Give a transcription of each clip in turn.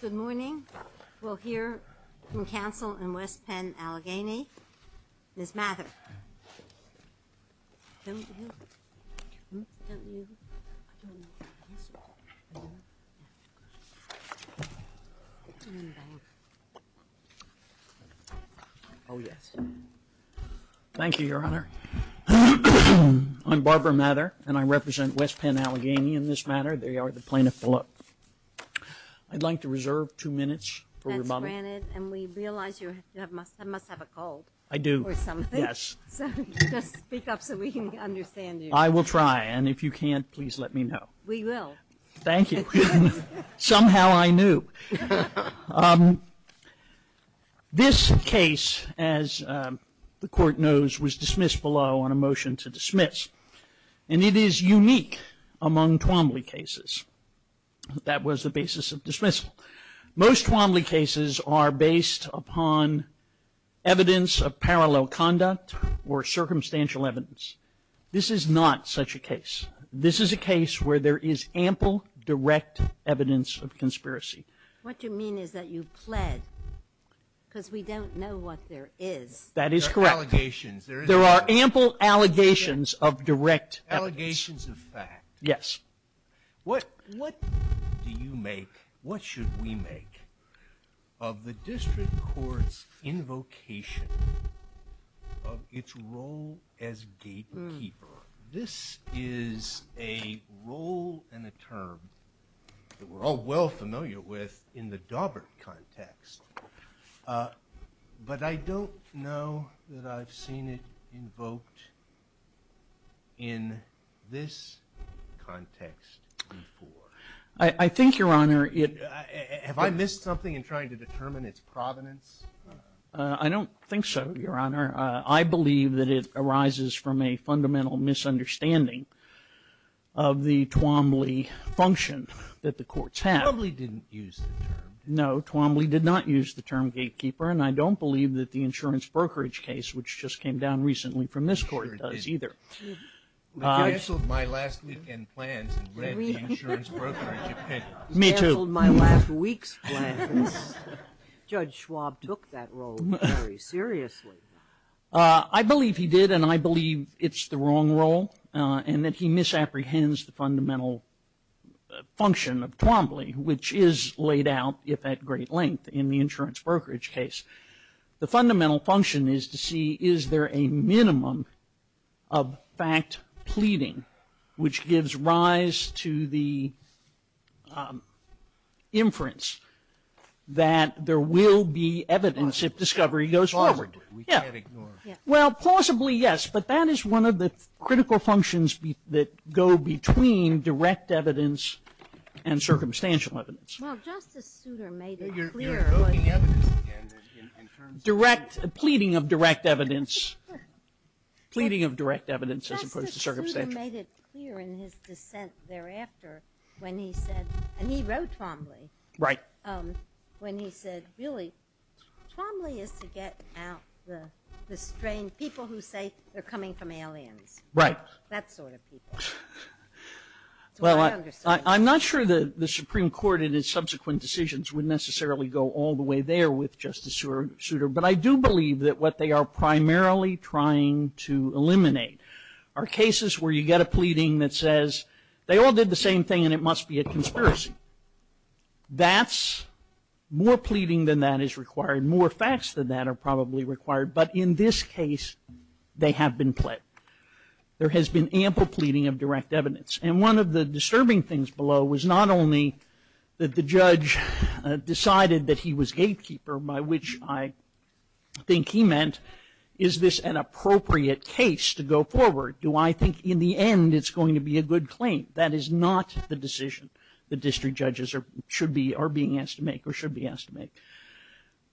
Good morning. We'll hear from counsel in West Penn Allegheny, Ms. Mather. Thank you, Your Honor. I'm Barbara Mather, and I represent West Penn Allegheny in this matter. There you are, the plaintiff below. I'd like to reserve two minutes for your comment. That's granted, and we realize you must have a cold. I do. Or something. Yes. So just speak up so we can understand you. I will try, and if you can't, please let me know. We will. Thank you. Somehow I knew. This case, as the court knows, was dismissed below on a motion to dismiss, and it is unique among Twombly cases. That was the basis of dismissal. Most Twombly cases are based upon evidence of parallel conduct or circumstantial evidence. This is not such a case. This is a case where there is ample direct evidence of conspiracy. What you mean is that you pled, because we don't know what there is. That is correct. There are ample allegations of direct evidence. Allegations of fact. Yes. What do you make, what should we make, of the district court's invocation of its role as gatekeeper? This is a role and a term that we're all well familiar with in the Daubert context before. I think, Your Honor, it... Have I missed something in trying to determine its provenance? I don't think so, Your Honor. I believe that it arises from a fundamental misunderstanding of the Twombly function that the courts have. Twombly didn't use the term. No, Twombly did not use the term gatekeeper, and I don't believe that the insurance brokerage case, which just came down recently from this court, does either. I canceled my last weekend plans and read the insurance brokerage opinion. Me too. Canceled my last week's plans. Judge Schwab took that role very seriously. I believe he did, and I believe it's the wrong role, and that he misapprehends the fundamental function of Twombly, which is laid out, if at great length, in the insurance brokerage case. The fundamental function is to see, is there a minimum of fact pleading, which gives rise to the inference that there will be evidence if discovery goes forward. Well, plausibly, yes, but that is one of the critical functions that go between direct evidence and circumstantial evidence. Well, Justice Souter made it clear. You're voting evidence, in terms of... Direct, pleading of direct evidence, pleading of direct evidence as opposed to circumstantial. Justice Souter made it clear in his dissent thereafter when he said, and he wrote Twombly. Right. When he said, really, Twombly is to get out the strange people who say they're coming from aliens. Right. That sort of people. Well, I'm not sure that the Supreme Court in its subsequent decisions would necessarily go all the way there with Justice Souter, but I do believe that what they are primarily trying to eliminate are cases where you get a pleading that says, they all did the same thing and it must be a conspiracy. That's, more pleading than that is probably required. But in this case, they have been pled. There has been ample pleading of direct evidence. And one of the disturbing things below was not only that the judge decided that he was gatekeeper, by which I think he meant, is this an appropriate case to go forward? Do I think, in the end, it's going to be a good claim? That is not the decision the district judges are, are being asked to make or should be asked to make.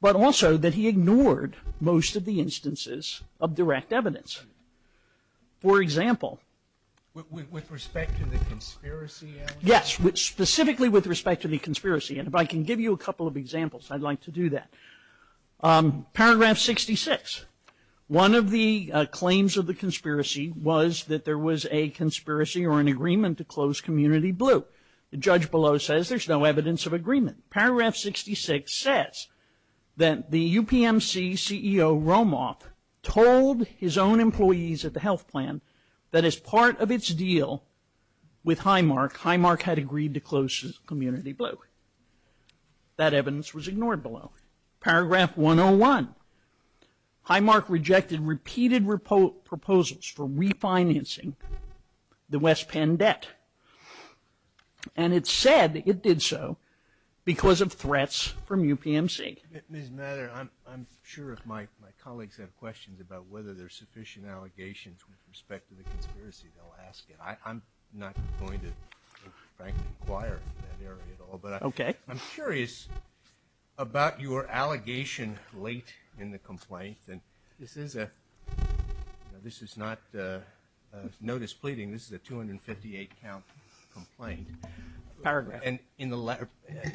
But also that he ignored most of the instances of direct evidence. For example. With respect to the conspiracy element? Yes. Specifically with respect to the conspiracy. And if I can give you a couple of examples, I'd like to do that. Paragraph 66. One of the claims of the conspiracy was that there was a conspiracy or an agreement to close Community Blue. The judge below says there's no evidence of agreement. Paragraph 66 says that the UPMC CEO Romoff told his own employees at the health plan that as part of its deal with Highmark, Highmark had agreed to close Community Blue. That evidence was ignored below. Paragraph 101. Highmark rejected repeated proposals for refinancing the West Penn debt. And it said it did so because of threats from UPMC. Ms. Mather, I'm sure if my colleagues have questions about whether there's sufficient allegations with respect to the conspiracy, they'll ask it. I'm not going to frankly inquire in that area at all, but I'm curious about your allegation late in the complaint. And this is a, this is not a notice pleading, this is a 258 count complaint. Paragraph.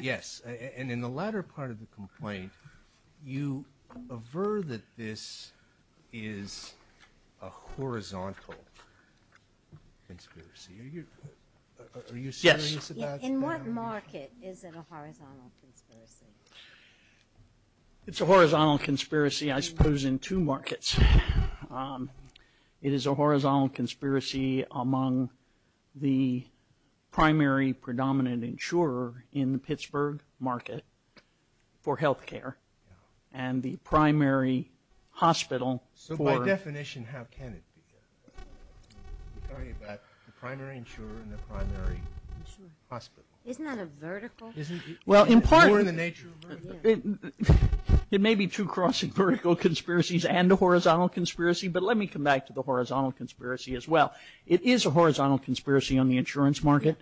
Yes. And in the latter part of the complaint, you aver that this is a horizontal conspiracy. Are you serious about it? Yes. In what market is it a horizontal conspiracy? It's a horizontal conspiracy, I suppose, in two markets. It is a horizontal conspiracy among the primary predominant insurer in the Pittsburgh market for health care and the primary hospital. So by definition, how can it be? We're talking about the primary insurer and the primary hospital. Isn't that a vertical? Well, in part, it may be two crossing vertical conspiracies and a horizontal conspiracy, but let me come back to the horizontal conspiracy as well. It is a horizontal conspiracy on the insurance market.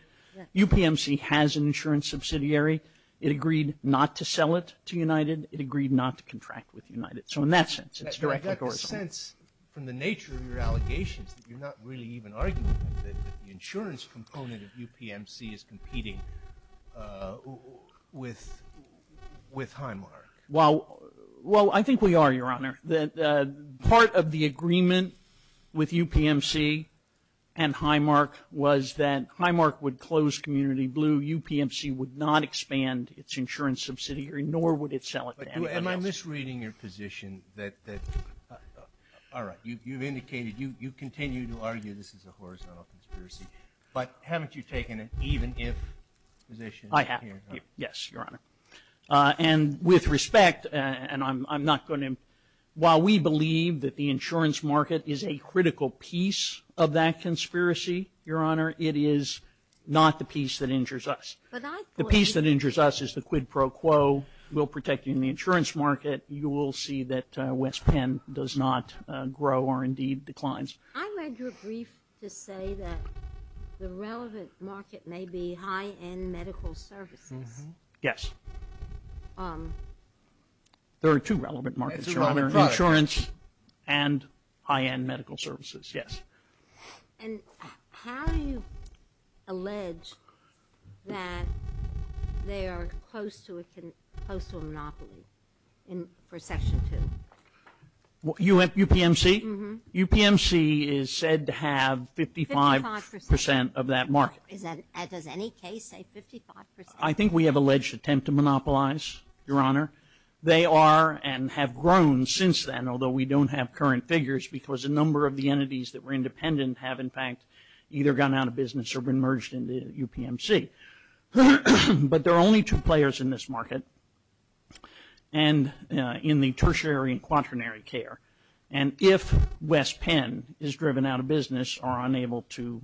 UPMC has an insurance subsidiary. It agreed not to sell it to United. It agreed not to contract with United. So in that sense, it's direct. From the nature of your allegations, you're not really even arguing that the insurance component of UPMC is competing with, with Highmark. Well, well, I think we are, Your Honor, that part of the agreement with UPMC and Highmark was that Highmark would close Community Blue. UPMC would not expand its insurance subsidiary, nor would it sell it to anybody else. Am I misreading your position that, that, all right, you, you've indicated, you, you continue to argue this is a horizontal conspiracy, but haven't you taken an even-if position? I have. Yes, Your Honor. And with respect, and I'm, I'm not going to, while we believe that the insurance market is a critical piece of that conspiracy, Your Honor, it is not the piece that injures us. The piece that injures us is the quid pro quo. We'll protect you in the insurance market. You will see that West Penn does not grow or indeed declines. I read your brief to say that the relevant market may be high-end medical services. Yes. There are two relevant markets, Your Honor, insurance and high-end medical services. Yes. And how do you allege that they are close to a, close to a monopoly in, for Section 2? UPMC? UPMC is said to have 55 percent of that market. Is that, does any case say 55 percent? I think we have alleged attempt to monopolize, Your Honor. They are and have grown since then, although we don't have current figures, because a number of the entities that were independent have in fact either gone out of business or been merged into UPMC. But there are only two players in this market and in the tertiary and quaternary care. And if West Penn is driven out of business or unable to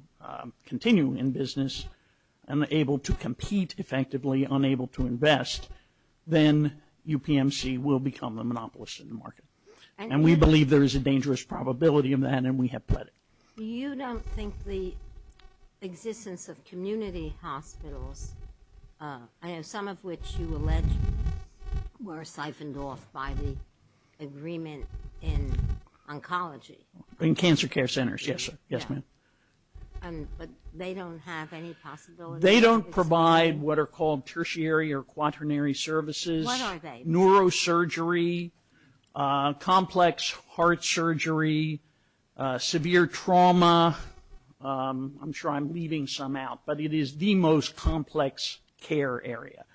continue in business and able to compete effectively, unable to invest, then UPMC will become the monopolist in the market. And we believe there is a dangerous probability of that and we have pledged it. You don't think the existence of community hospitals, I know some of which you allege were siphoned off by the agreement in oncology? In cancer care centers, yes, yes ma'am. But they don't have any possibility? They don't provide what are called tertiary or quaternary services. What are they? Neurosurgery, complex heart surgery, severe trauma. I'm sure I'm leaving some out, but it is the most complex care area.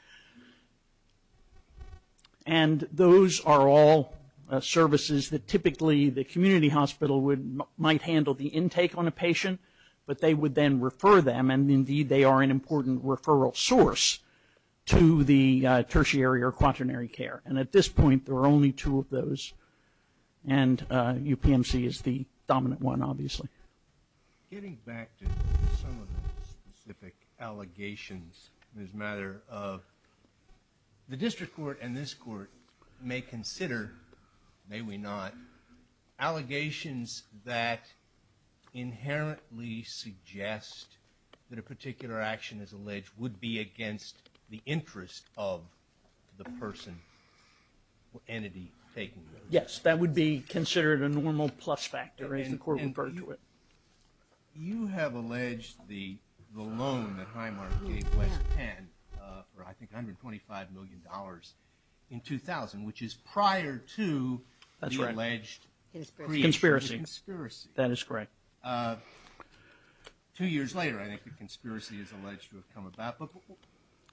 And those are all services that typically the community hospital would might handle the intake on a patient, but they would then refer them and indeed they are an important referral source to the tertiary or quaternary care. And at this point there are only two of those and UPMC is the dominant one obviously. Getting back to some of those specific allegations, there's a matter of the district court and this court may consider, may we not, allegations that inherently suggest that a particular action is alleged would be against the interest of the person or entity taking them? Yes, that would be considered a normal plus factor as the court referred to it. You have alleged the loan that Highmark gave West Penn for I think 125 million dollars in 2000, which is prior to the alleged pre-insurance conspiracy. That is correct. Two years later I think the conspiracy is alleged to have come about,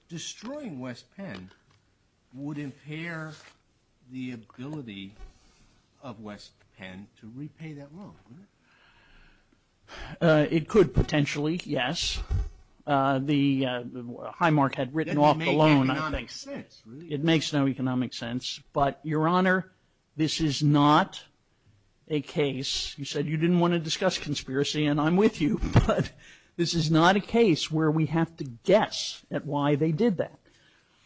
destroying West Penn would impair the ability of West Penn to repay that loan. It could potentially, yes. The Highmark had written off the loan. It makes no economic sense, but your honor, this is not a case, you said you didn't want to discuss conspiracy and I'm with you, but this is not a case where we have to guess at why they did that.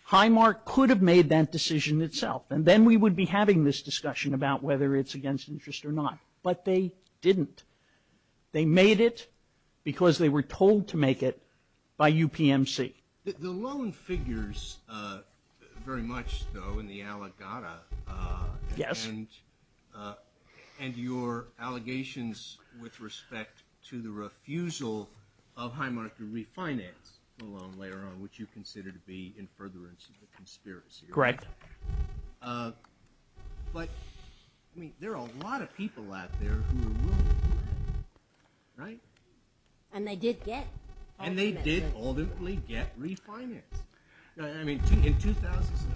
Highmark could have made that decision itself and then we would be having this discussion about whether it's against interest or not, but they didn't. They made it because they were told to make it by UPMC. The loan figures very much though in the allegata and your allegations with respect to the refusal of Highmark to refinance the loan later on, which you consider to be in furtherance of the conspiracy. Correct. But I mean there are a lot of people out there who were willing to do that, right? And they did get. And they did ultimately get refinance. I mean in 2007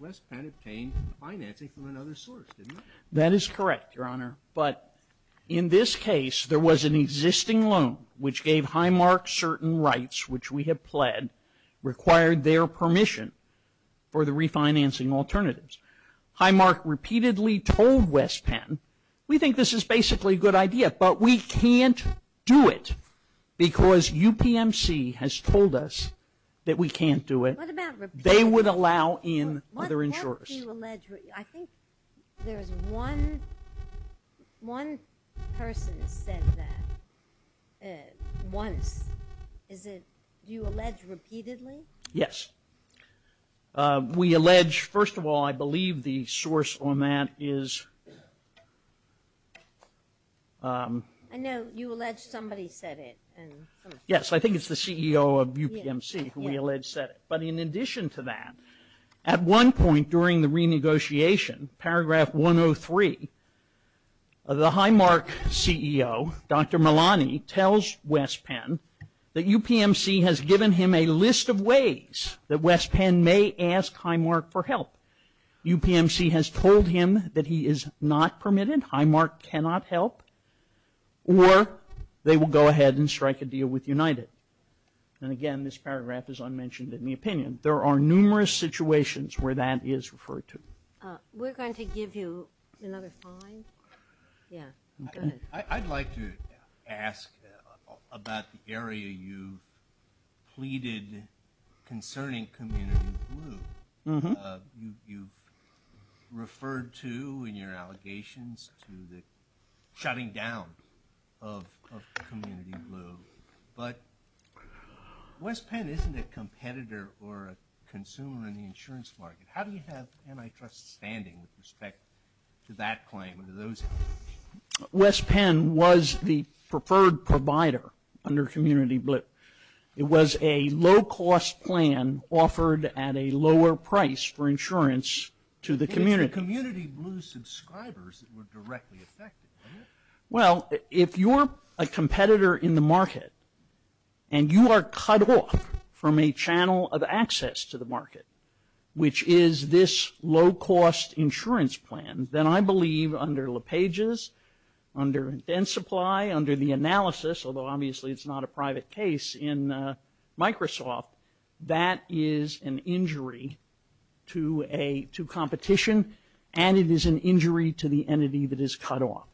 West Penn obtained financing from another source, didn't they? That is correct, your honor, but in this case there was an existing loan which gave Highmark certain rights which we have pled, required their permission for the refinancing alternatives. Highmark repeatedly told West Penn, we think this is basically a good idea, but we can't do it because UPMC has told us that we can't do it. They would allow in other insurers. I think there's one, one person said that once. Is it, do you allege repeatedly? Yes. We allege, first of all I believe the source on that is, I know you allege somebody said it. Yes, I think it's the CEO of UPMC who we allege said it. But in addition to that, at one point during the renegotiation, paragraph 103, the Highmark CEO, Dr. Malani, tells West Penn that UPMC has given him a list of ways that West Penn may ask Highmark for help. UPMC has told him that he is not permitted, Highmark cannot help, or they will go ahead and strike a deal with United. And again, this paragraph is unmentioned in the opinion. There are numerous situations where that is referred to. We're going to give you another five. Yeah, I'd like to ask about the area you've pleaded concerning Community Blue. You've referred to in your allegations to the shutting down of Community Blue, but West Penn isn't a competitor or a consumer in the insurance market. How do you have antitrust standing with respect to that claim and to those? West Penn was the preferred provider under Community Blue. It was a low-cost plan offered at a lower price for insurance to the community. It's the Community Blue subscribers that were directly affected. Well, if you're a competitor in the market and you are cut off from a channel of access to the market, which is this low-cost insurance plan, then I believe under LePage's, under Dentsupply, under the analysis, although obviously it's not a private case in Microsoft, that is an injury to competition, and it is an injury to the entity that is cut off.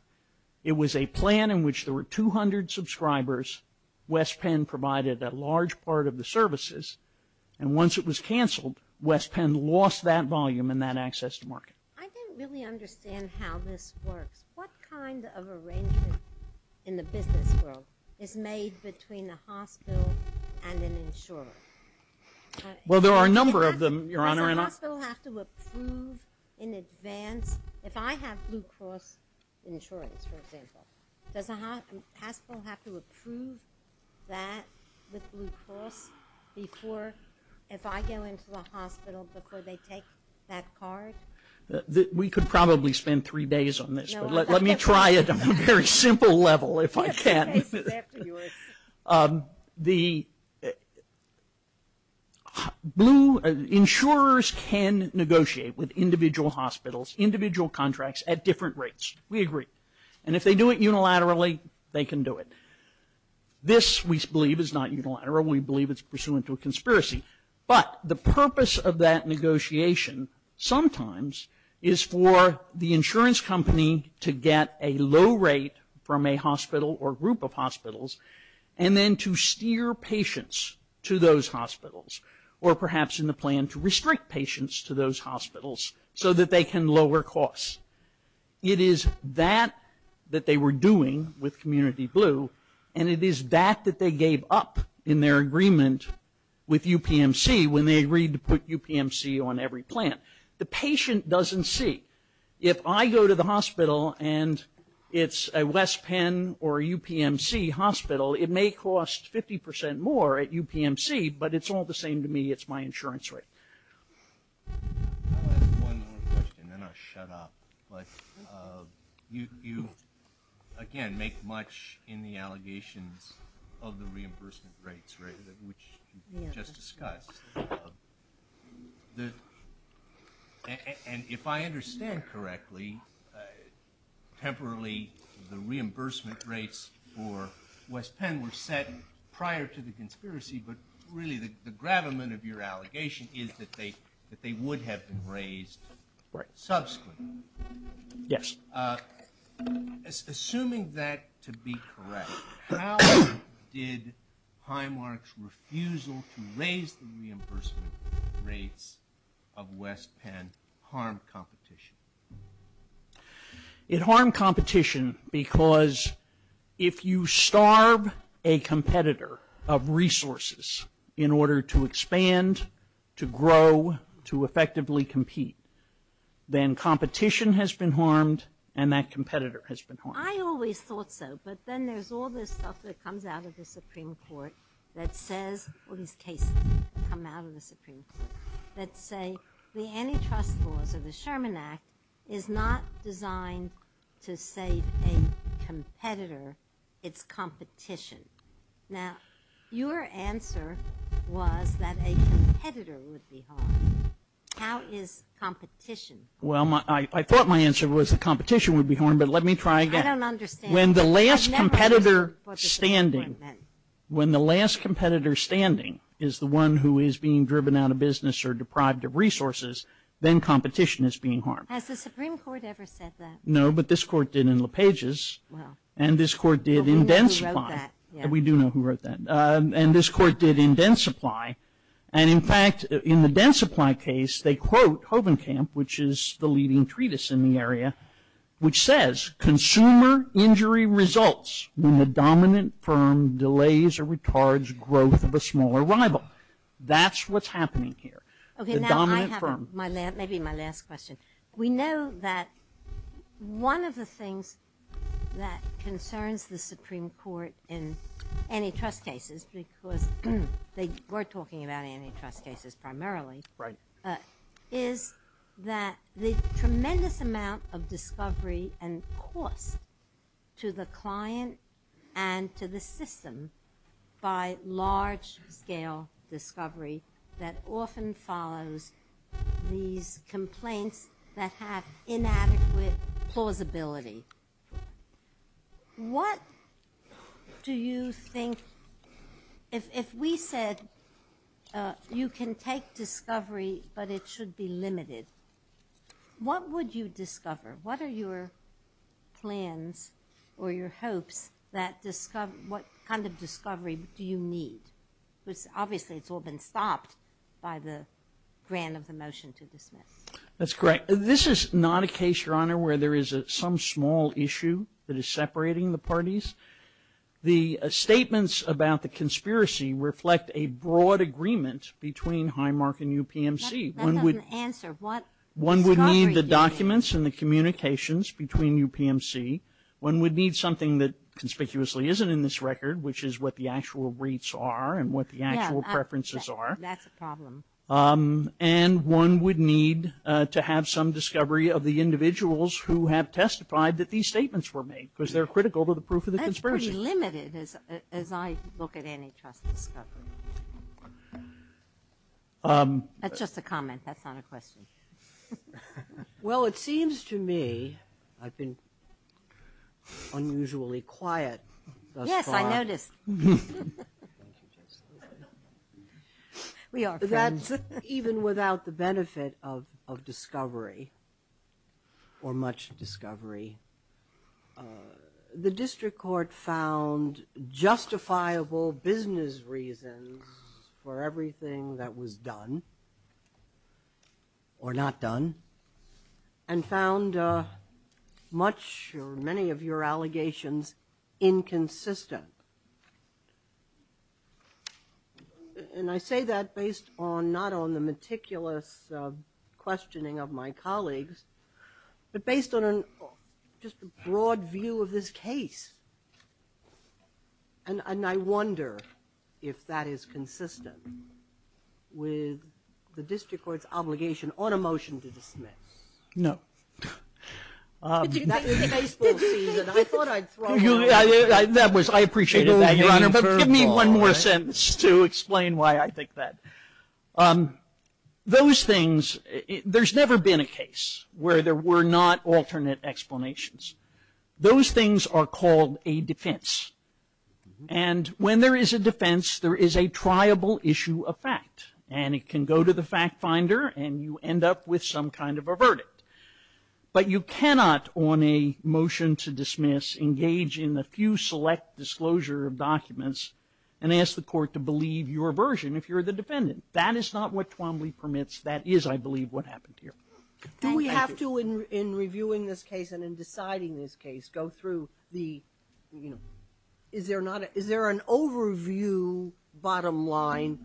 It was a plan in which there were 200 subscribers. West Penn provided a large part of the services, and once it was cut off, West Penn lost that volume and that access to market. I don't really understand how this works. What kind of arrangement in the business world is made between a hospital and an insurer? Well, there are a number of them, Your Honor. Does a hospital have to approve in advance? If I have Blue Cross insurance, for example, does a hospital have to approve that with Blue Cross before, if I go into the hospital, before they take that card? We could probably spend three days on this, but let me try it on a very simple level if I can. The Blue, insurers can negotiate with individual hospitals, individual contracts, at different rates. We agree. And if they do it unilaterally, they can do it. This, we believe, is not unilateral. We believe it's pursuant to a conspiracy. But the purpose of that negotiation sometimes is for the insurance company to get a low rate from a hospital or group of hospitals and then to steer patients to those hospitals, or perhaps in the plan to restrict patients to those hospitals so that they can lower costs. It is that that they were doing with Community Blue, and it is that that they gave up in their agreement with UPMC when they agreed to put UPMC on every plan. The patient doesn't see. If I go to the hospital and it's a West Penn or UPMC hospital, it may cost 50 percent more at UPMC, but it's all the same to me. It's my insurance rate. I'll ask one more question, then I'll shut up. But you, again, make much in the allegations of the reimbursement rates, right, which you just discussed. And if I understand correctly, temporarily the reimbursement rates for West Penn were set prior to the conspiracy, but really the gravamen of your allegation is that they would have been raised right subsequently. Yes. Assuming that to be correct, how did Highmark's refusal to raise the reimbursement rates of West Penn harm competition? It harmed competition because if you starve a competitor of resources in order to expand, to grow, to effectively compete, then competition has been harmed and that competitor has been harmed. I always thought so, but then there's all this stuff that comes out of the Supreme Court that says, all these cases come out of the Supreme Court, that say the antitrust laws of the Sherman Act is not designed to save a competitor, it's competition. Now, your answer was that a competitor would be harmed. How is competition? Well, I thought my answer was that competition would be harmed, but let me try again. I don't understand. When the last competitor standing is the one who is being driven out of business or deprived of resources, then competition is being harmed. Has the Supreme Court ever said that? No, but this court did in Densupply, and in fact, in the Densupply case, they quote Hovenkamp, which is the leading treatise in the area, which says, consumer injury results when the dominant firm delays or retards growth of a smaller rival. That's what's happening here. Okay, now I have my, maybe my last question. We know that one of the things that concerns the Supreme Court in antitrust cases because they were talking about antitrust cases primarily, right, is that the tremendous amount of discovery and cost to the client and to the system by large-scale discovery that often follows these complaints that have inadequate plausibility. What do you think, if we said you can take discovery but it should be limited, what would you discover? What are your plans or your hopes that, what kind of discovery do you need? Because obviously it's all been stopped by the grant of the motion to dismiss. That's correct. This is not a case, Your Honor, where there is some small issue that is separating the parties. The statements about the conspiracy reflect a broad agreement between Highmark and UPMC. One would need the documents and the communications between UPMC. One would need something that conspicuously isn't in this problem. And one would need to have some discovery of the individuals who have testified that these statements were made because they're critical to the proof of the conspiracy. That's pretty limited as I look at antitrust discovery. That's just a comment, that's not a question. Well, it seems to me I've been unusually quiet thus far. Yes, I noticed. Thank you, Justice. We are friends. That's even without the benefit of discovery or much discovery. The district court found justifiable business reasons for everything that was done or not done and found much or many of your allegations inconsistent. And I say that based on, not on the meticulous questioning of my colleagues, but based on just a broad view of this case. And I wonder if that is consistent with the district court's obligation on a motion to dismiss. No. That was a baseball season. I thought I'd thrown one. That was, I appreciated that, Your Honor, but give me one more sentence to explain why I think that. Those things, there's never been a case where there were not alternate explanations. Those things are called a defense. And when there is a defense, there is a triable issue of fact. And it can go to the fact finder, and you end up with some kind of a verdict. But you cannot, on a motion to dismiss, engage in a few select disclosure of documents and ask the court to believe your version if you're the defendant. That is not what Twombly permits. That is, I believe, what happened here. Do we have to, in reviewing this case and in deciding this case, go through the, is there an overview bottom line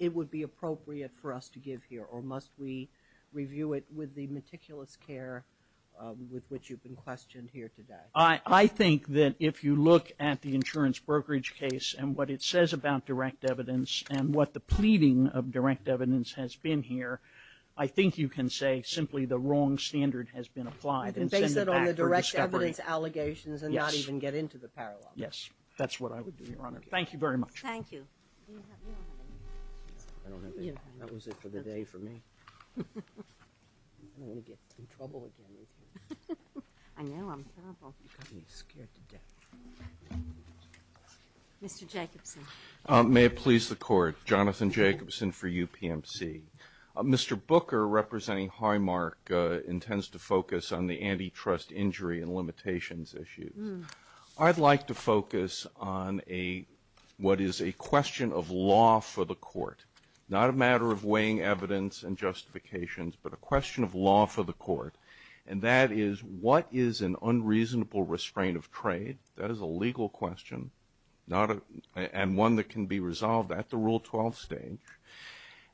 it would be appropriate for us to give here, or must we review it with the meticulous care with which you've been questioned here today? I think that if you look at the insurance brokerage case and what it says about direct evidence and what the pleading of direct evidence has been here, I think you can say simply the wrong standard has been applied. Based on the direct evidence allegations and not even get into the parallel. Yes, that's what I would do, Your Honor. Thank you very much. Thank you. Mr. Jacobson. May it please the Court. Jonathan Jacobson for UPMC. Mr. Booker, representing Highmark, intends to focus on the antitrust injury and limitations issues. I'd like to focus on a, what is a question of law for the court, not a matter of weighing evidence and justifications, but a question of law for the court. And that is, what is an unreasonable restraint of trade? That is a legal question, not a, and one that can be resolved at Rule 12 stage.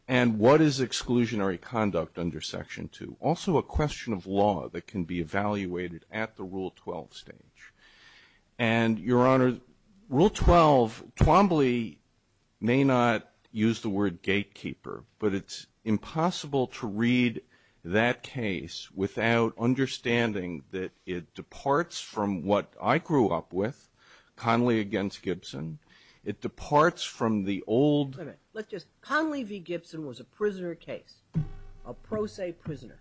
And what is exclusionary conduct under Section 2? Also a question of law that can be evaluated at the Rule 12 stage. And Your Honor, Rule 12, Twombly may not use the word gatekeeper, but it's impossible to read that case without understanding that it departs from what I grew up with, Conley v. Gibson. It departs from the old... Wait a minute. Let's just... Conley v. Gibson was a prisoner case, a pro se prisoner.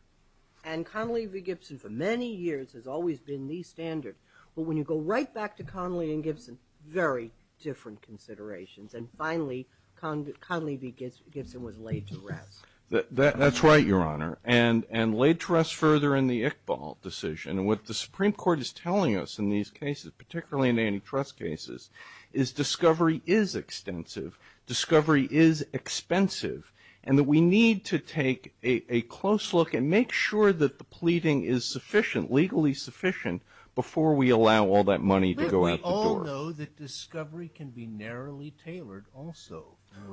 And Conley v. Gibson for many years has always been the standard. But when you go right back to Conley and Gibson, very different considerations. And finally, Conley v. Gibson was laid to rest. That's right, Your Honor. And laid to rest further in the Iqbal decision. And what the Supreme Court is telling us in these cases, particularly in antitrust cases, is discovery is extensive, discovery is expensive, and that we need to take a close look and make sure that the pleading is sufficient, legally sufficient, before we allow all that money to go out the door. But we all know that discovery can be narrowly tailored also.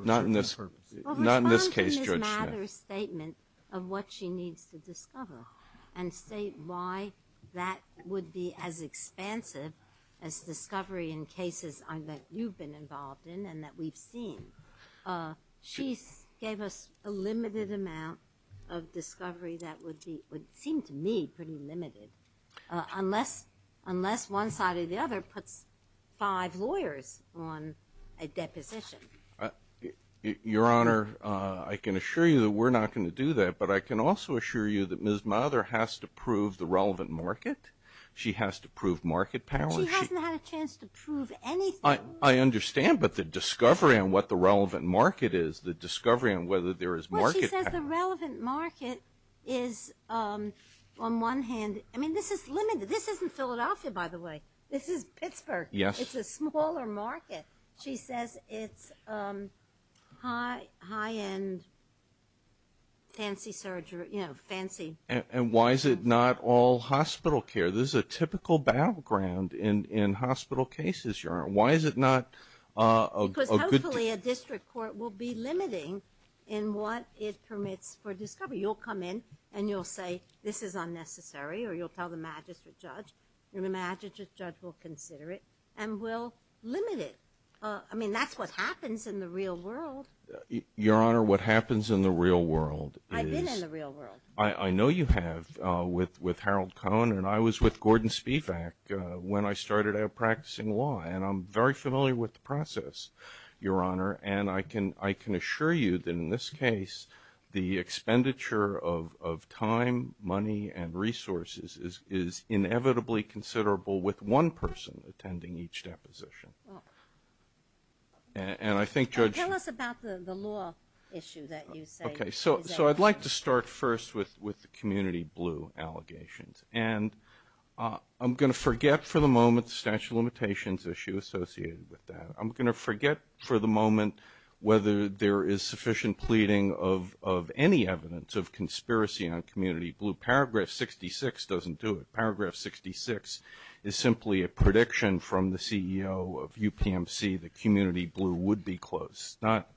Not in this case, Judge Smith. Well, respond to Ms. Mather's statement of what she needs to discover. And state why that would be as expansive as discovery in cases that you've been involved in and that we've seen. She gave us a limited amount of discovery that would be, would seem to me, pretty limited. Unless one side or the other puts five lawyers on a deposition. Your Honor, I can assure you that we're not going to do that. But I can also assure you that Ms. Mather has to prove the relevant market. She has to prove market power. She hasn't had a chance to prove anything. I understand. But the discovery on what the relevant market is, the discovery on whether there is market power. Well, she says the relevant market is, on one hand, I mean, this is limited. This isn't Philadelphia, by the way. This is Pittsburgh. Yes. It's a smaller market. She says it's high-end, fancy surgery, you know, fancy. And why is it not all hospital care? This is a typical battleground in hospital cases, Your Honor. Why is it not a good- Because hopefully a district court will be limiting in what it permits for discovery. You'll come in and you'll say this is unnecessary or you'll tell the magistrate judge. And the magistrate judge will consider it and will limit it. I mean, that's what happens in the real world. Your Honor, what happens in the real world is- I've been in the real world. I know you have with Harold Cohen. And I was with Gordon Spivak when I started out practicing law. And I'm very familiar with the process, Your Honor. And I can assure you that in this case, the expenditure of time, money, and resources is inevitably considerable with one person attending each deposition. And I think Judge- Tell us about the law issue that you say- Okay. So I'd like to start first with the Community Blue allegations. And I'm going to forget for the moment the statute of limitations issue associated with that. I'm going to forget for the moment whether there is sufficient pleading of any evidence of conspiracy on Community Blue. Paragraph 66 doesn't do it. Paragraph 66 is simply a prediction from the CEO of UPMC that Community Blue would be closed. It's not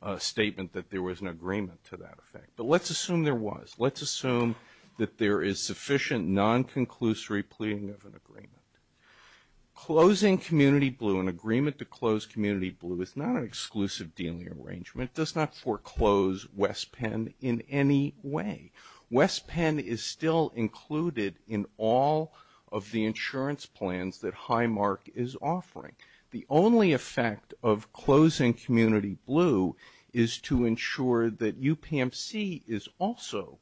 a statement that there was an agreement to that effect. But let's assume there was. Let's assume that there is sufficient non-conclusory pleading of an agreement. Closing Community Blue, an agreement to close Community Blue, is not an exclusive dealing arrangement. It does not foreclose West Penn in any way. West Penn is still included in all of the insurance plans that Highmark is offering. The only effect of closing Community Blue is to ensure that UPMC is also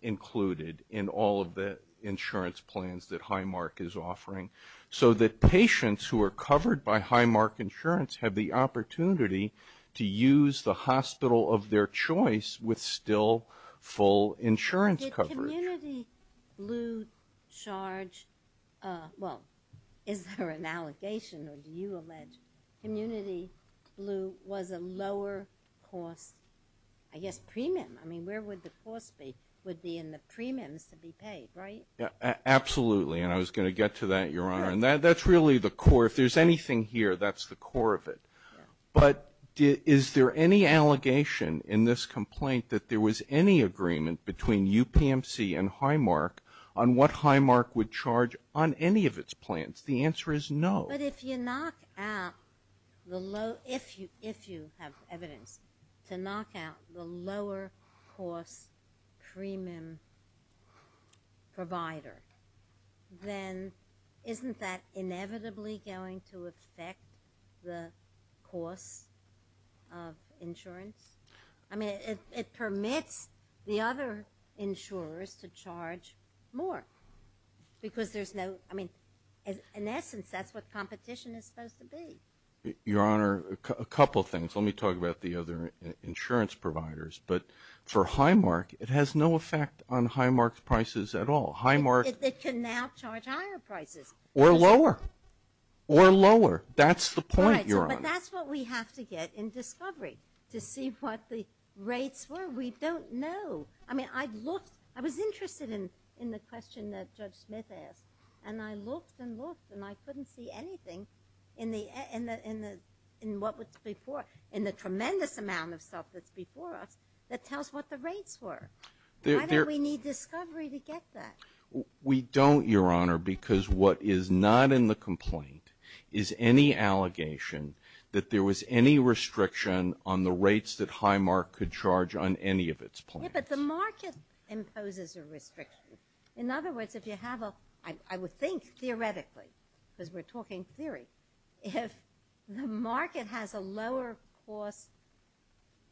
included in all of the insurance plans that Highmark is offering. So that patients who are covered by Highmark Insurance have the opportunity to use the hospital of their choice with still full insurance coverage. Did Community Blue charge, well, is there an allegation or do you allege, Community Blue was a lower cost, I guess, premium? I mean, where would the cost be? It would be in the premiums to be paid, right? Absolutely. And I was going to get to that, Your Honor. And that's really the core. If there's anything here, that's the core of it. But is there any allegation in this complaint that there was any agreement between UPMC and Highmark on what Highmark would charge on any of its plans? The answer is no. But if you knock out the low, if you have evidence to knock out the lower cost premium provider, then isn't that inevitably going to affect the cost of insurance? I mean, it permits the other insurers to charge more because there's no, I mean, in essence, that's what competition is supposed to be. Your Honor, a couple things. Let me talk about the other insurance providers. But for Highmark, it has no effect on Highmark's prices at all. It can now charge higher prices. Or lower. Or lower. That's the point, Your Honor. But that's what we have to get in discovery, to see what the rates were. We don't know. I mean, I looked. I was interested in the question that Judge Smith asked. And I looked and looked and I couldn't see anything in the tremendous amount of stuff that's before us that tells what the rates were. Why don't we need discovery to get that? We don't, Your Honor, because what is not in the complaint is any allegation that there was any restriction on the rates that Highmark could charge on any of its plans. Yeah, but the market imposes a restriction. In other words, if you have a, I would think theoretically, because we're talking theory, if the market has a lower cost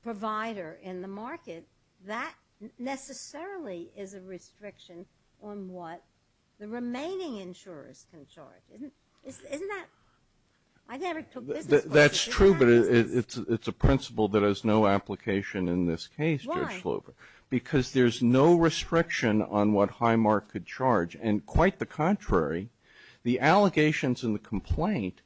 provider in the market, that necessarily is a restriction on what the remaining insurers can charge. Isn't that? I never took business classes. That's true, but it's a principle that has no application in this case, Judge Slover. Because there's no restriction on what Highmark could charge. And quite the contrary, the allegations in the complaint,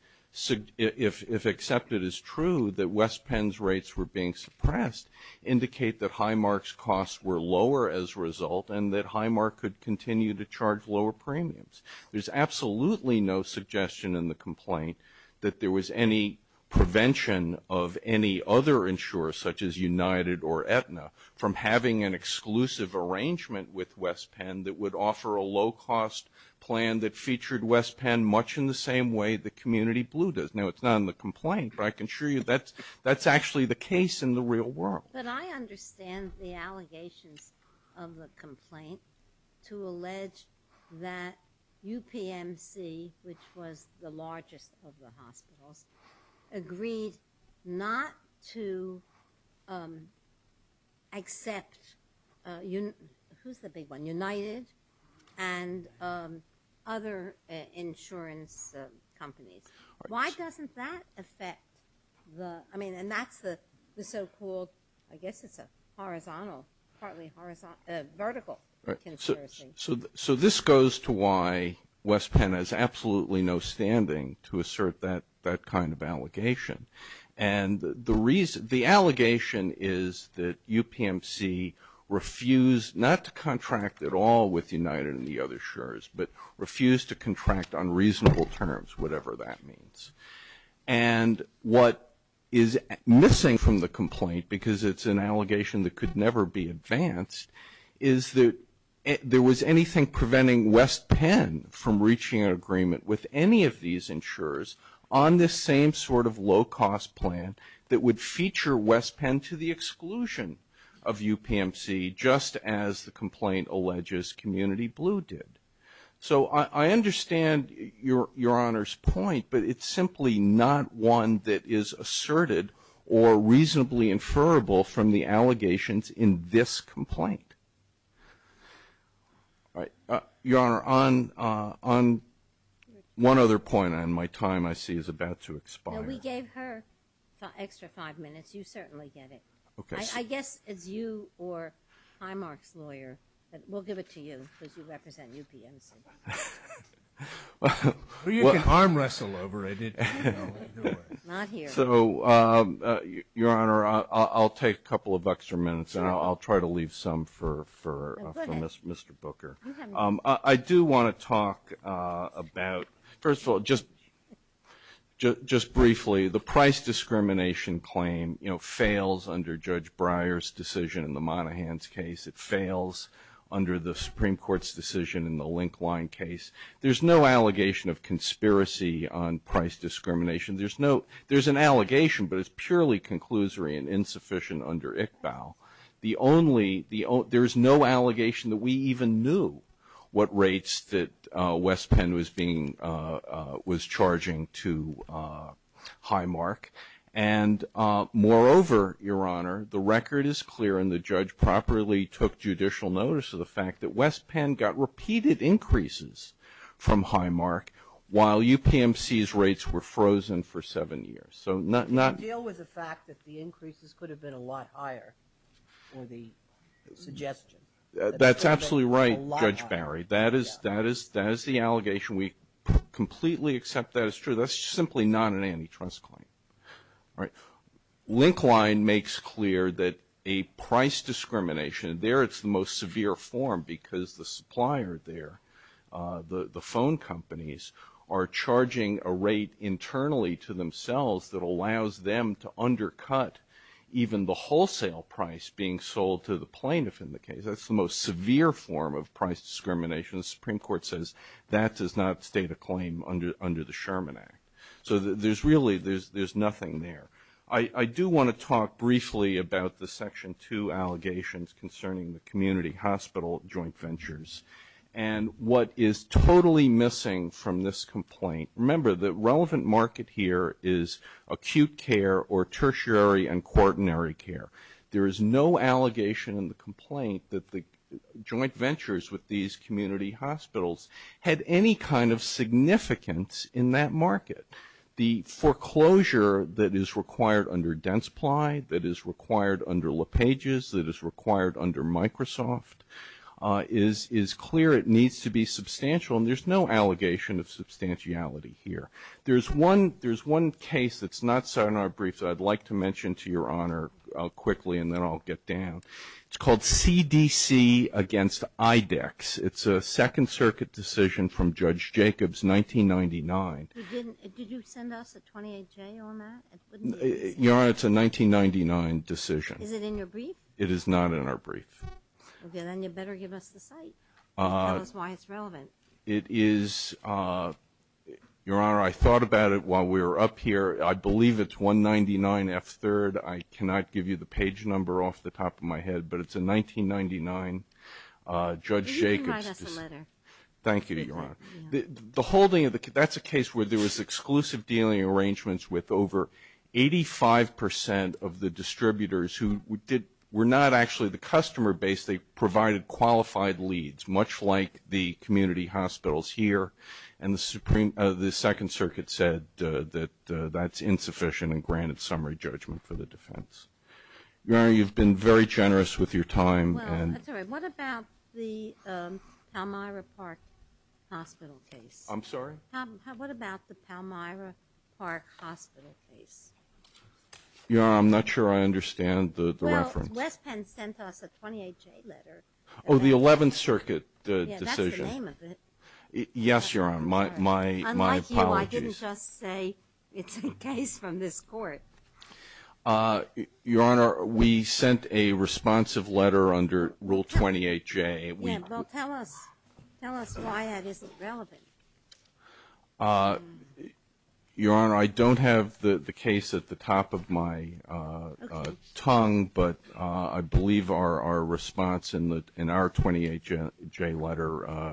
if accepted as true, that West Penn's rates were being suppressed indicate that Highmark's costs were lower as a result and that Highmark could continue to charge lower premiums. There's absolutely no suggestion in the complaint that there was any prevention of any other insurers, such as United or Aetna, from having an exclusive arrangement with West Penn that would offer a low cost plan that featured West Penn much in the same way the community blue does. Now, it's not in the complaint, but I can assure you that's actually the case in the real world. But I understand the allegations of the complaint to allege that UPMC, which was the largest of the hospitals, agreed not to accept, who's the big one, United and other insurance companies. Why doesn't that affect the, I mean, and that's the so-called, I guess it's a horizontal, partly horizontal, vertical. So this goes to why West Penn has absolutely no standing to assert that kind of allegation. And the reason, the allegation is that UPMC refused not to contract at all with United and the other insurers, but refused to contract on reasonable terms, whatever that means. And what is missing from the complaint, because it's an allegation that could never be advanced, is that there was anything preventing West Penn from reaching an agreement with any of these insurers on this same sort of low cost plan that would feature West Penn to the exclusion of UPMC, just as the complaint alleges community blue did. So I understand your Honor's point, but it's simply not one that is asserted or reasonably inferable from the allegations in this complaint. All right. Your Honor, on one other point, and my time I see is about to expire. Now we gave her the extra five minutes. You certainly get it. Okay. I guess as you or Highmark's lawyer, we'll give it to you because you represent UPMC. Well, you can arm wrestle over it. So, Your Honor, I'll take a couple of extra minutes and I'll try to leave some for Mr. Booker. I do want to talk about, first of all, just briefly, the price discrimination claim, you know, fails under Judge Breyer's decision in the Monaghan's case. It fails under the Supreme Court's decision in the Link Line case. There's no allegation of conspiracy on price discrimination. There's no, there's an allegation, but it's purely conclusory and insufficient under ICBAO. The only, there's no allegation that we even knew what rates that West Penn was being, was charging to Highmark. And moreover, Your Honor, the record is clear and the judge properly took judicial notice of the fact that West Penn got repeated increases from Highmark while UPMC's rates were frozen for seven years. So not, not. Deal with the fact that the increases could have been a lot higher or the suggestion. That's absolutely right, Judge Barry. That is, that is, that is the allegation. We completely accept that as true. That's simply not an antitrust claim. All right. Link Line makes clear that a price discrimination, there it's the most severe form because the supplier there, the phone companies, are charging a rate internally to themselves that allows them to undercut even the wholesale price being sold to the plaintiff in the case. That's the most severe form of price discrimination. The Supreme Court says that does not state a claim under the Sherman Act. So there's really, there's nothing there. I do want to talk briefly about the Section 2 allegations concerning the community hospital joint ventures. And what is totally missing from this complaint, remember the relevant market here is acute care or tertiary and quaternary care. There is no allegation in the complaint that the joint ventures with these community hospitals had any kind of significance in that market. The foreclosure that is required under Densply, that is required under LePage's, that is required under Microsoft, is clear. It needs to be substantial. And there's no allegation of substantiality here. There's one, there's one case that's not set in our briefs that I'd like to mention to your honor quickly and then I'll get down. It's called CDC against IDEX. It's a Second Circuit decision from Judge Jacobs, 1999. Did you send us a 28-J on that? Your Honor, it's a 1999 decision. Is it in your brief? It is not in our brief. Okay, then you better give us the site. Tell us why it's relevant. It is, Your Honor, I thought about it while we were up here. I believe it's 199 F3rd. I cannot give you the page number off the top of my head, but it's a 1999, Judge Jacobs. You can write us a letter. Thank you, Your Honor. The holding of the, that's a case where there was exclusive dealing arrangements with over 85 percent of the distributors who did, were not actually the customer base. They provided qualified leads, much like the community hospitals here. And the Supreme, the Second Circuit said that that's insufficient and granted summary judgment for the defense. Your Honor, you've been very generous with your time. Well, that's all right. What about the Palmyra Park Hospital case? I'm sorry? What about the Palmyra Park Hospital case? Your Honor, I'm not sure I understand the reference. Well, West Penn sent us a 28-J letter. Oh, the 11th Circuit decision. Yeah, that's the name of it. Yes, Your Honor, my apologies. Unlike you, I didn't just say it's a case from this court. Your Honor, we sent a responsive letter under Rule 28-J. Yeah, well, tell us, tell us why that isn't relevant. Your Honor, I don't have the case at the top of my tongue, but I believe our response in the, in our 28-J letter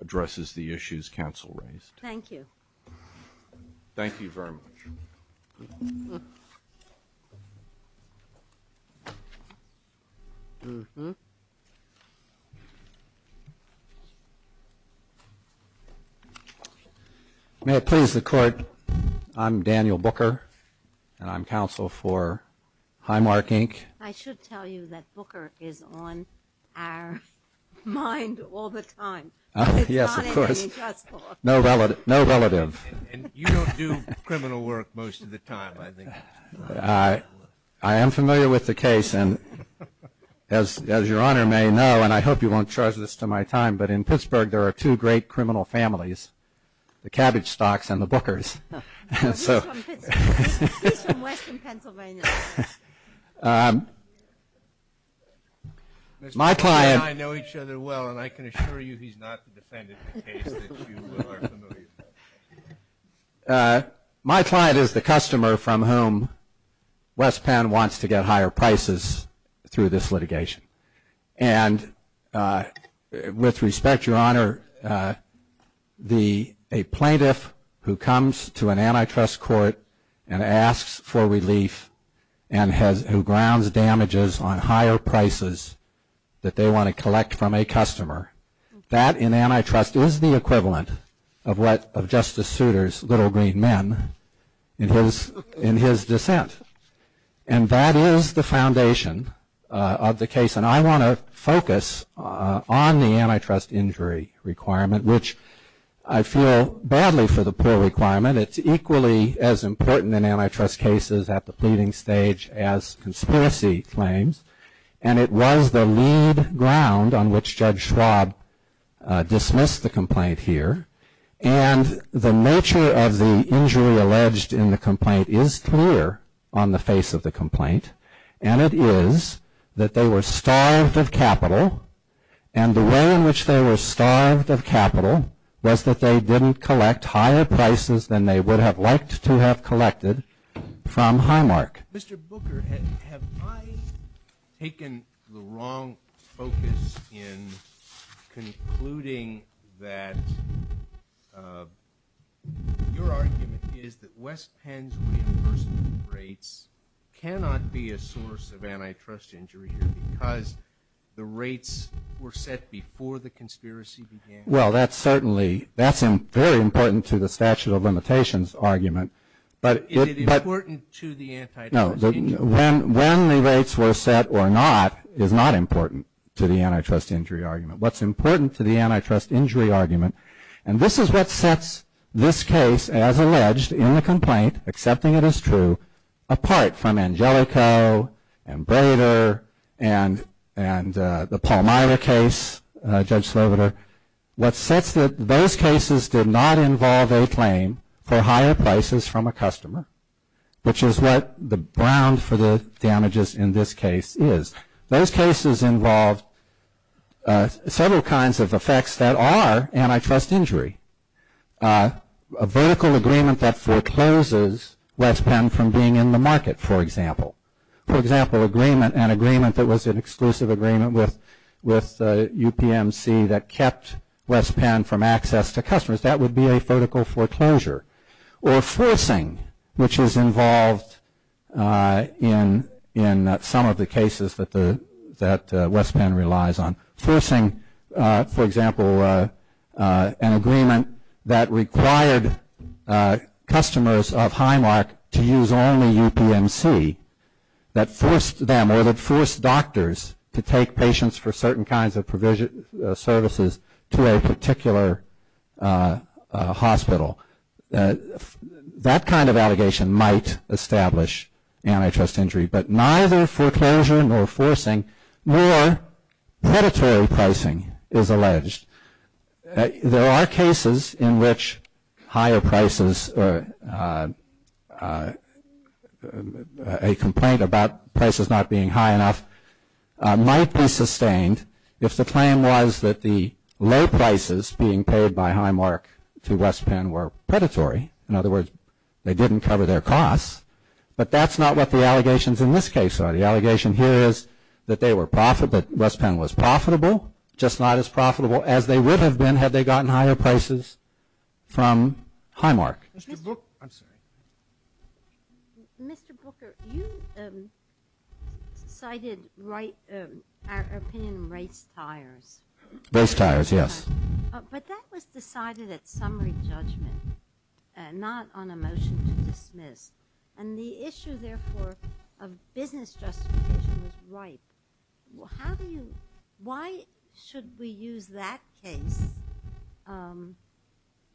addresses the issues counsel raised. Thank you. Thank you very much. May it please the Court, I'm Daniel Booker, and I'm counsel for Highmark, Inc. I should tell you that Booker is on our mind all the time. Yes, of course. No relative. You don't do criminal work most of the time, I think. I, I am familiar with the case, and as, as Your Honor may know, and I hope you won't charge this to my time, but in Pittsburgh, there are two great criminal families, the Cabbage Stalks and the Bookers. He's from Pennsylvania. He's from western Pennsylvania. My client. Mr. Booker and I know each other well, and I can assure you he's not defending the case that you are familiar with. But my client is the customer from whom West Penn wants to get higher prices through this litigation, and with respect, Your Honor, the, a plaintiff who comes to an antitrust court and asks for relief and has, who grounds damages on higher prices that they want to justice suitors, little green men, in his, in his dissent. And that is the foundation of the case. And I want to focus on the antitrust injury requirement, which I feel badly for the poor requirement. It's equally as important in antitrust cases at the pleading stage as conspiracy claims, and it was the lead ground on which Judge Schwab dismissed the complaint here. And the nature of the injury alleged in the complaint is clear on the face of the complaint, and it is that they were starved of capital, and the way in which they were starved of capital was that they didn't collect higher prices than they would have liked to have collected from Highmark. Mr. Booker, have I taken the wrong focus in concluding that your argument is that West Penn's reimbursement rates cannot be a source of antitrust injury here because the rates were set before the conspiracy began? Well, that's certainly, that's very important to the statute of limitations argument. But is it important to the antitrust injury? No, when the rates were set or not is not important to the antitrust injury argument. What's important to the antitrust injury argument, and this is what sets this case as alleged in the complaint, accepting it as true, apart from Angelico and Brader and the Paul Meyer case, Judge Sloboda, what sets those cases did not involve a claim for higher prices from a customer, which is what the ground for the damages in this case is. Those cases involved several kinds of effects that are antitrust injury, a vertical agreement that forecloses West Penn from being in the market, for example. For example, an agreement that was an exclusive agreement with UPMC that kept West Penn from access to customers, that would be a vertical foreclosure. Or forcing, which is involved in some of the cases that West Penn relies on. Forcing, for example, an agreement that required customers of Highmark to use only UPMC that forced them or that forced doctors to take patients for certain kinds of services to a particular hospital. That kind of allegation might establish antitrust injury, but neither foreclosure nor forcing nor predatory pricing is alleged. There are cases in which higher prices, a complaint about prices not being high enough might be sustained if the claim was that the low prices being paid by Highmark to West Penn were predatory. In other words, they didn't cover their costs. But that's not what the allegations in this case are. The allegation here is that they were profit, that West Penn was profitable, just not as profitable as they would have been had they gotten higher prices from Highmark. Mr. Booker, you cited our opinion on race tires. Race tires, yes. But that was decided at summary judgment, not on a motion to dismiss. The issue, therefore, of business justification was ripe. How do you, why should we use that case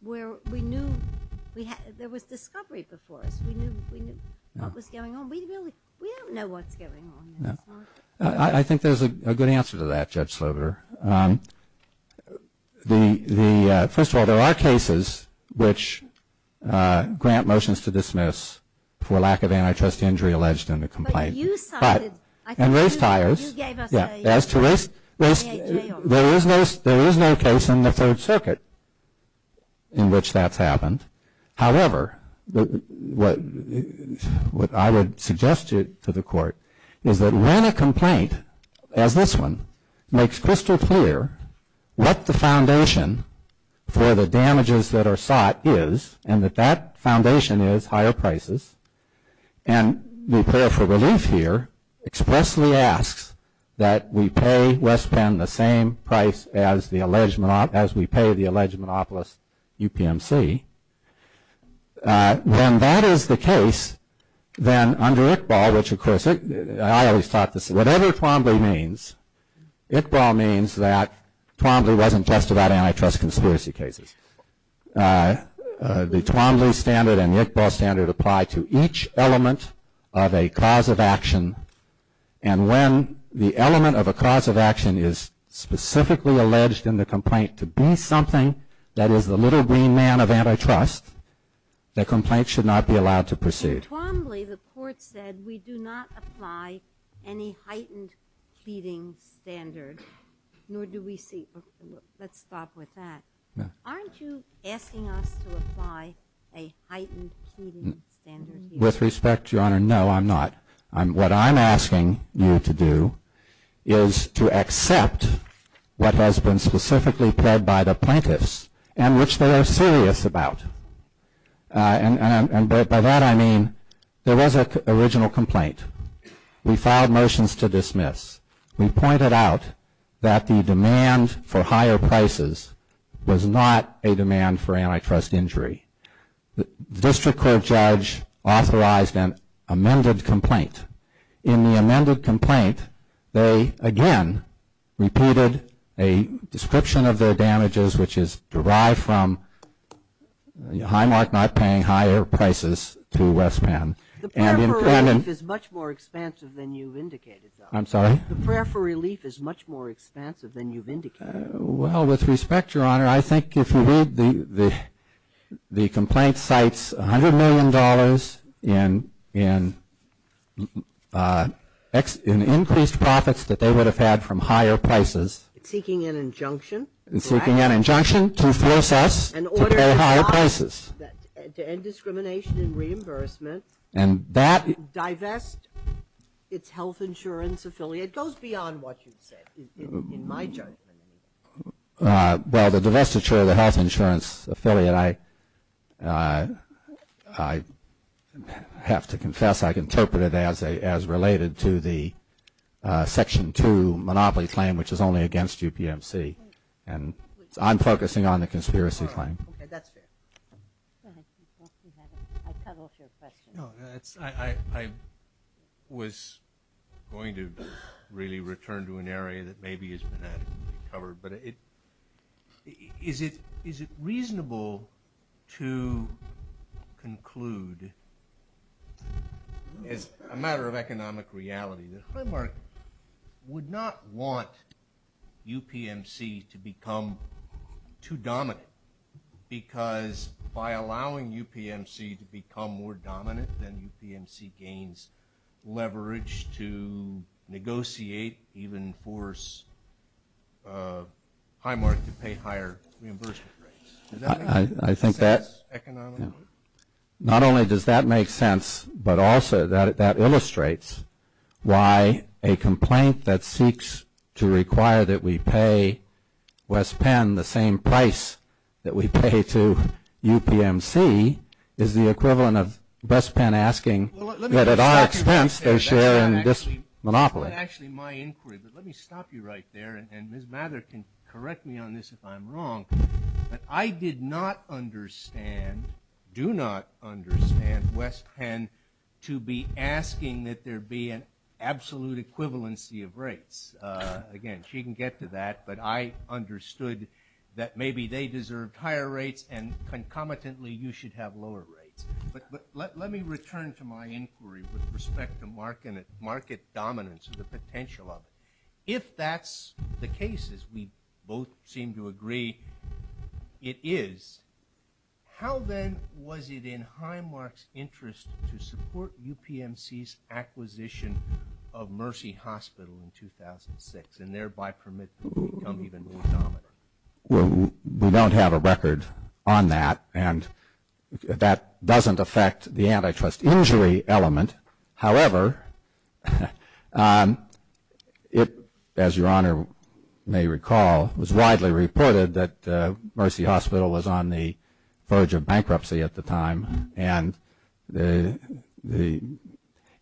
where we knew, there was discovery before us. We knew what was going on. We really, we don't know what's going on. I think there's a good answer to that, Judge Slover. First of all, there are cases which grant motions to dismiss for lack of antitrust injury alleged in the complaint. But in race tires, as to race, there is no case in the Third Circuit in which that's happened. However, what I would suggest to the court is that when a complaint, as this one, makes crystal clear what the foundation for the damages that are sought is, and that that expressly asks that we pay West Penn the same price as we pay the alleged monopolist, UPMC. When that is the case, then under Iqbal, which of course, I always thought this, whatever Twombly means, Iqbal means that Twombly wasn't just about antitrust conspiracy cases. The Twombly standard and the Iqbal standard apply to each element of a cause of action. And when the element of a cause of action is specifically alleged in the complaint to be something that is the little green man of antitrust, the complaint should not be allowed to proceed. In Twombly, the court said we do not apply any heightened pleading standard, nor do we see, let's stop with that. Aren't you asking us to apply a heightened pleading standard here? With respect, Your Honor, no, I'm not. What I'm asking you to do is to accept what has been specifically pled by the plaintiffs and which they are serious about. And by that I mean, there was an original complaint. We filed motions to dismiss. We pointed out that the demand for higher prices was not a demand for antitrust injury. The district court judge authorized an amended complaint. In the amended complaint, they again repeated a description of their damages, which is derived from Highmark not paying higher prices to West Penn. The prayer for relief is much more expansive than you've indicated, though. I'm sorry? The prayer for relief is much more expansive than you've indicated. Well, with respect, Your Honor, I think if you read the complaint cites $100 million in increased profits that they would have had from higher prices. Seeking an injunction. Seeking an injunction to force us to pay higher prices. To end discrimination and reimbursement. And that. Divest its health insurance affiliate. Goes beyond what you've said in my judgment. Well, the divestiture of the health insurance affiliate, I have to confess, I can interpret it as related to the Section 2 monopoly claim, which is only against UPMC. And I'm focusing on the conspiracy claim. Okay, that's fair. Go ahead. I cut off your question. No, I was going to really return to an area that maybe has been adequately covered. But is it reasonable to conclude, as a matter of economic reality, that Highmark would not want UPMC to become too dominant? Because by allowing UPMC to become more dominant, then UPMC gains leverage to negotiate, even force Highmark to pay higher reimbursement rates. I think that. Not only does that make sense, but also that illustrates why a complaint that seeks to require that we pay West Penn the same price that we pay to UPMC is the equivalent of West Penn asking that at our expense, they're sharing this monopoly. That's actually my inquiry. But let me stop you right there. And Ms. Mather can correct me on this if I'm wrong. But I did not understand, do not understand West Penn to be asking that there be an absolute equivalency of rates. Again, she can get to that. But I understood that maybe they deserved higher rates and concomitantly you should have lower rates. But let me return to my inquiry with respect to market dominance and the potential of it. If that's the case, as we both seem to agree it is, how then was it in Highmark's interest to support UPMC's acquisition of Mercy Hospital in 2006 and thereby permit them to become even more dominant? Well, we don't have a record on that. And that doesn't affect the antitrust injury element. However, it, as Your Honor may recall, was widely reported that Mercy Hospital was on the verge of bankruptcy at the time. And the,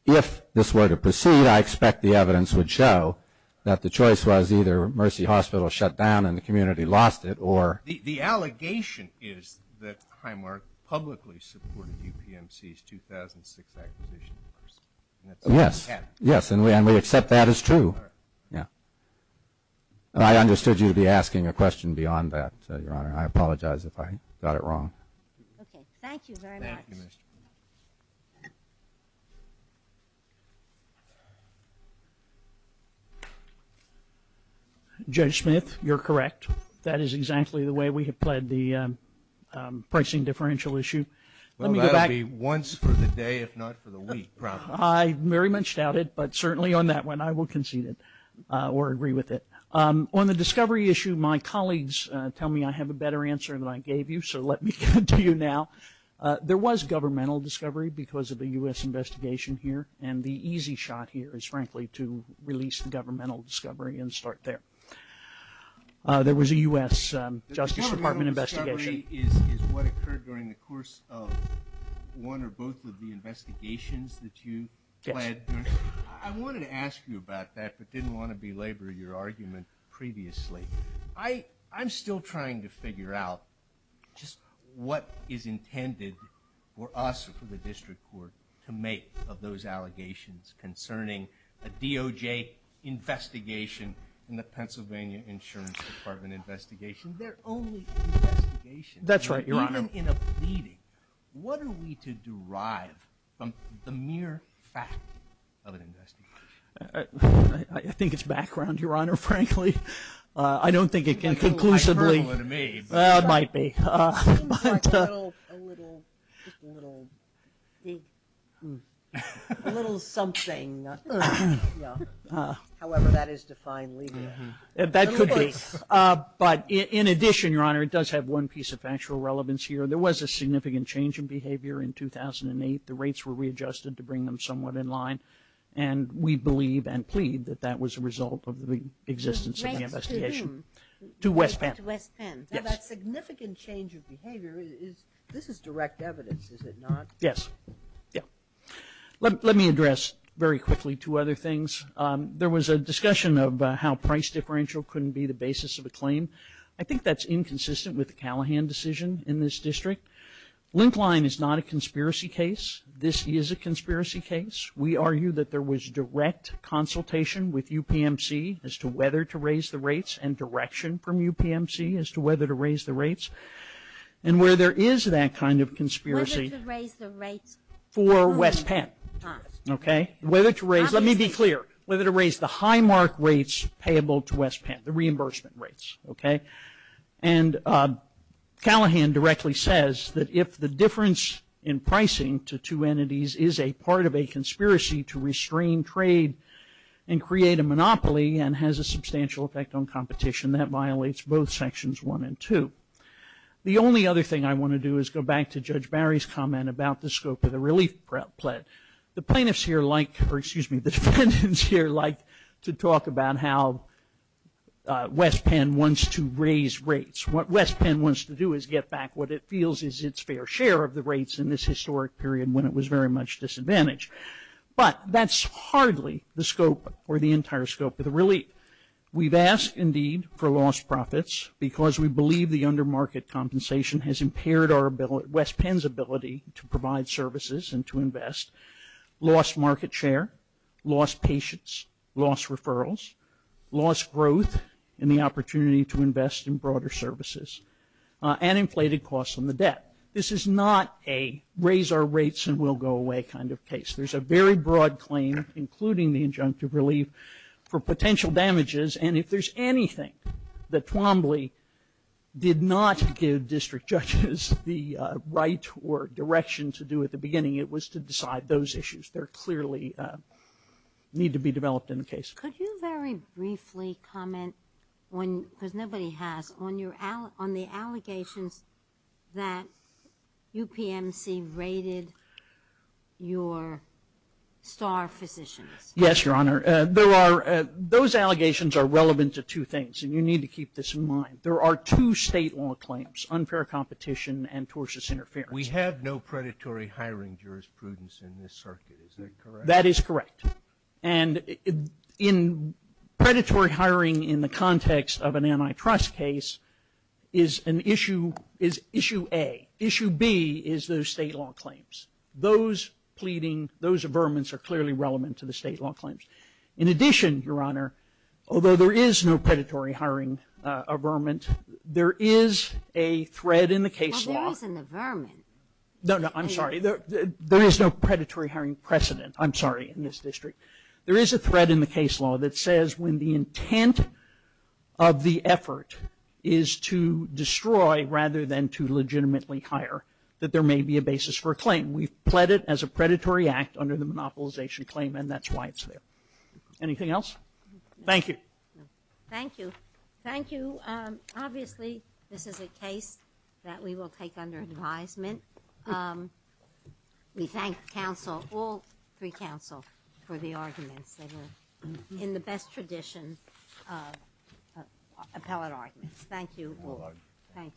if this were to proceed, I expect the evidence would show that the choice was either Mercy Hospital shut down and the community lost it or. The allegation is that Highmark publicly supported UPMC's 2006 acquisition of Mercy. Yes, yes. And we accept that as true. Yeah. I understood you to be asking a question beyond that, Your Honor. I apologize if I got it wrong. Okay. Thank you very much. Thank you, Ms. Smith. Judge Smith, you're correct. That is exactly the way we have played the pricing differential issue. Well, that'll be once for the day, if not for the week probably. I very much doubt it. But certainly on that one, I will concede it or agree with it. On the discovery issue, my colleagues tell me I have a better answer than I gave you. So let me get to you now. There was governmental discovery because of the U.S. investigation here. And the easy shot here is, frankly, to release governmental discovery and start there. There was a U.S. Justice Department investigation. Governmental discovery is what occurred during the course of one or both of the investigations that you led. I wanted to ask you about that, but didn't want to belabor your argument previously. I'm still trying to figure out just what is intended for us or for the District Court to make of those allegations concerning a DOJ investigation in the Pennsylvania Insurance Department investigation. They're only investigations. That's right, Your Honor. Even in a pleading, what are we to derive from the mere fact of an investigation? I think it's background, Your Honor, frankly. I don't think it can conclusively. It's a little hyperbole to me. It might be. It seems like a little, just a little, a little something. However, that is defined legally. That could be. But in addition, Your Honor, it does have one piece of factual relevance here. There was a significant change in behavior in 2008. The rates were readjusted to bring them somewhat in line. And we believe and plead that that was a result of the existence of the investigation. To West Penn. To West Penn. Now that significant change of behavior is, this is direct evidence, is it not? Yes, yeah. Let me address very quickly two other things. There was a discussion of how price differential couldn't be the basis of a claim. I think that's inconsistent with the Callahan decision in this district. Linkline is not a conspiracy case. This is a conspiracy case. We argue that there was direct consultation with UPMC as to whether to raise the rates and direction from UPMC as to whether to raise the rates. And where there is that kind of conspiracy. Whether to raise the rates. For West Penn. Okay. Whether to raise. Let me be clear. Whether to raise the high mark rates payable to West Penn. The reimbursement rates. Okay. And Callahan directly says that if the difference in pricing to two entities is a part of a petition, that violates both sections one and two. The only other thing I want to do is go back to Judge Barry's comment about the scope of the relief plan. The plaintiffs here like, or excuse me, the defendants here like to talk about how West Penn wants to raise rates. What West Penn wants to do is get back what it feels is its fair share of the rates in this historic period when it was very much disadvantaged. But that's hardly the scope or the entire scope of the relief. We've asked indeed for lost profits because we believe the under market compensation has impaired our ability, West Penn's ability to provide services and to invest. Lost market share. Lost patience. Lost referrals. Lost growth in the opportunity to invest in broader services. And inflated costs on the debt. This is not a raise our rates and we'll go away kind of case. There's a very broad claim including the injunctive relief for potential damages and if there's anything that Twombly did not give district judges the right or direction to do at the beginning it was to decide those issues. There clearly need to be developed in the case. Could you very briefly comment because nobody has on the allegations that UPMC raided your star physicians? Yes, your honor. Those allegations are relevant to two things and you need to keep this in mind. There are two state law claims, unfair competition and tortious interference. We have no predatory hiring jurisprudence in this circuit. Is that correct? That is correct. And in predatory hiring in the context of an antitrust case is an issue, is issue A. Issue B is those state law claims. Those pleading, those averments are clearly relevant to the state law claims. In addition, your honor, although there is no predatory hiring averment, there is a thread in the case law. There is an averment. No, no, I'm sorry. There is no predatory hiring precedent. I'm sorry in this district. There is a thread in the case law that says when the intent of the effort is to destroy rather than to legitimately hire that there may be a basis for a claim. We've pled it as a predatory act under the monopolization claim and that's why it's there. Anything else? Thank you. Thank you. Thank you. Obviously, this is a case that we will take under advisement. Um, we thank counsel, all three counsel for the arguments that were in the best tradition appellate arguments. Thank you all. Thank you.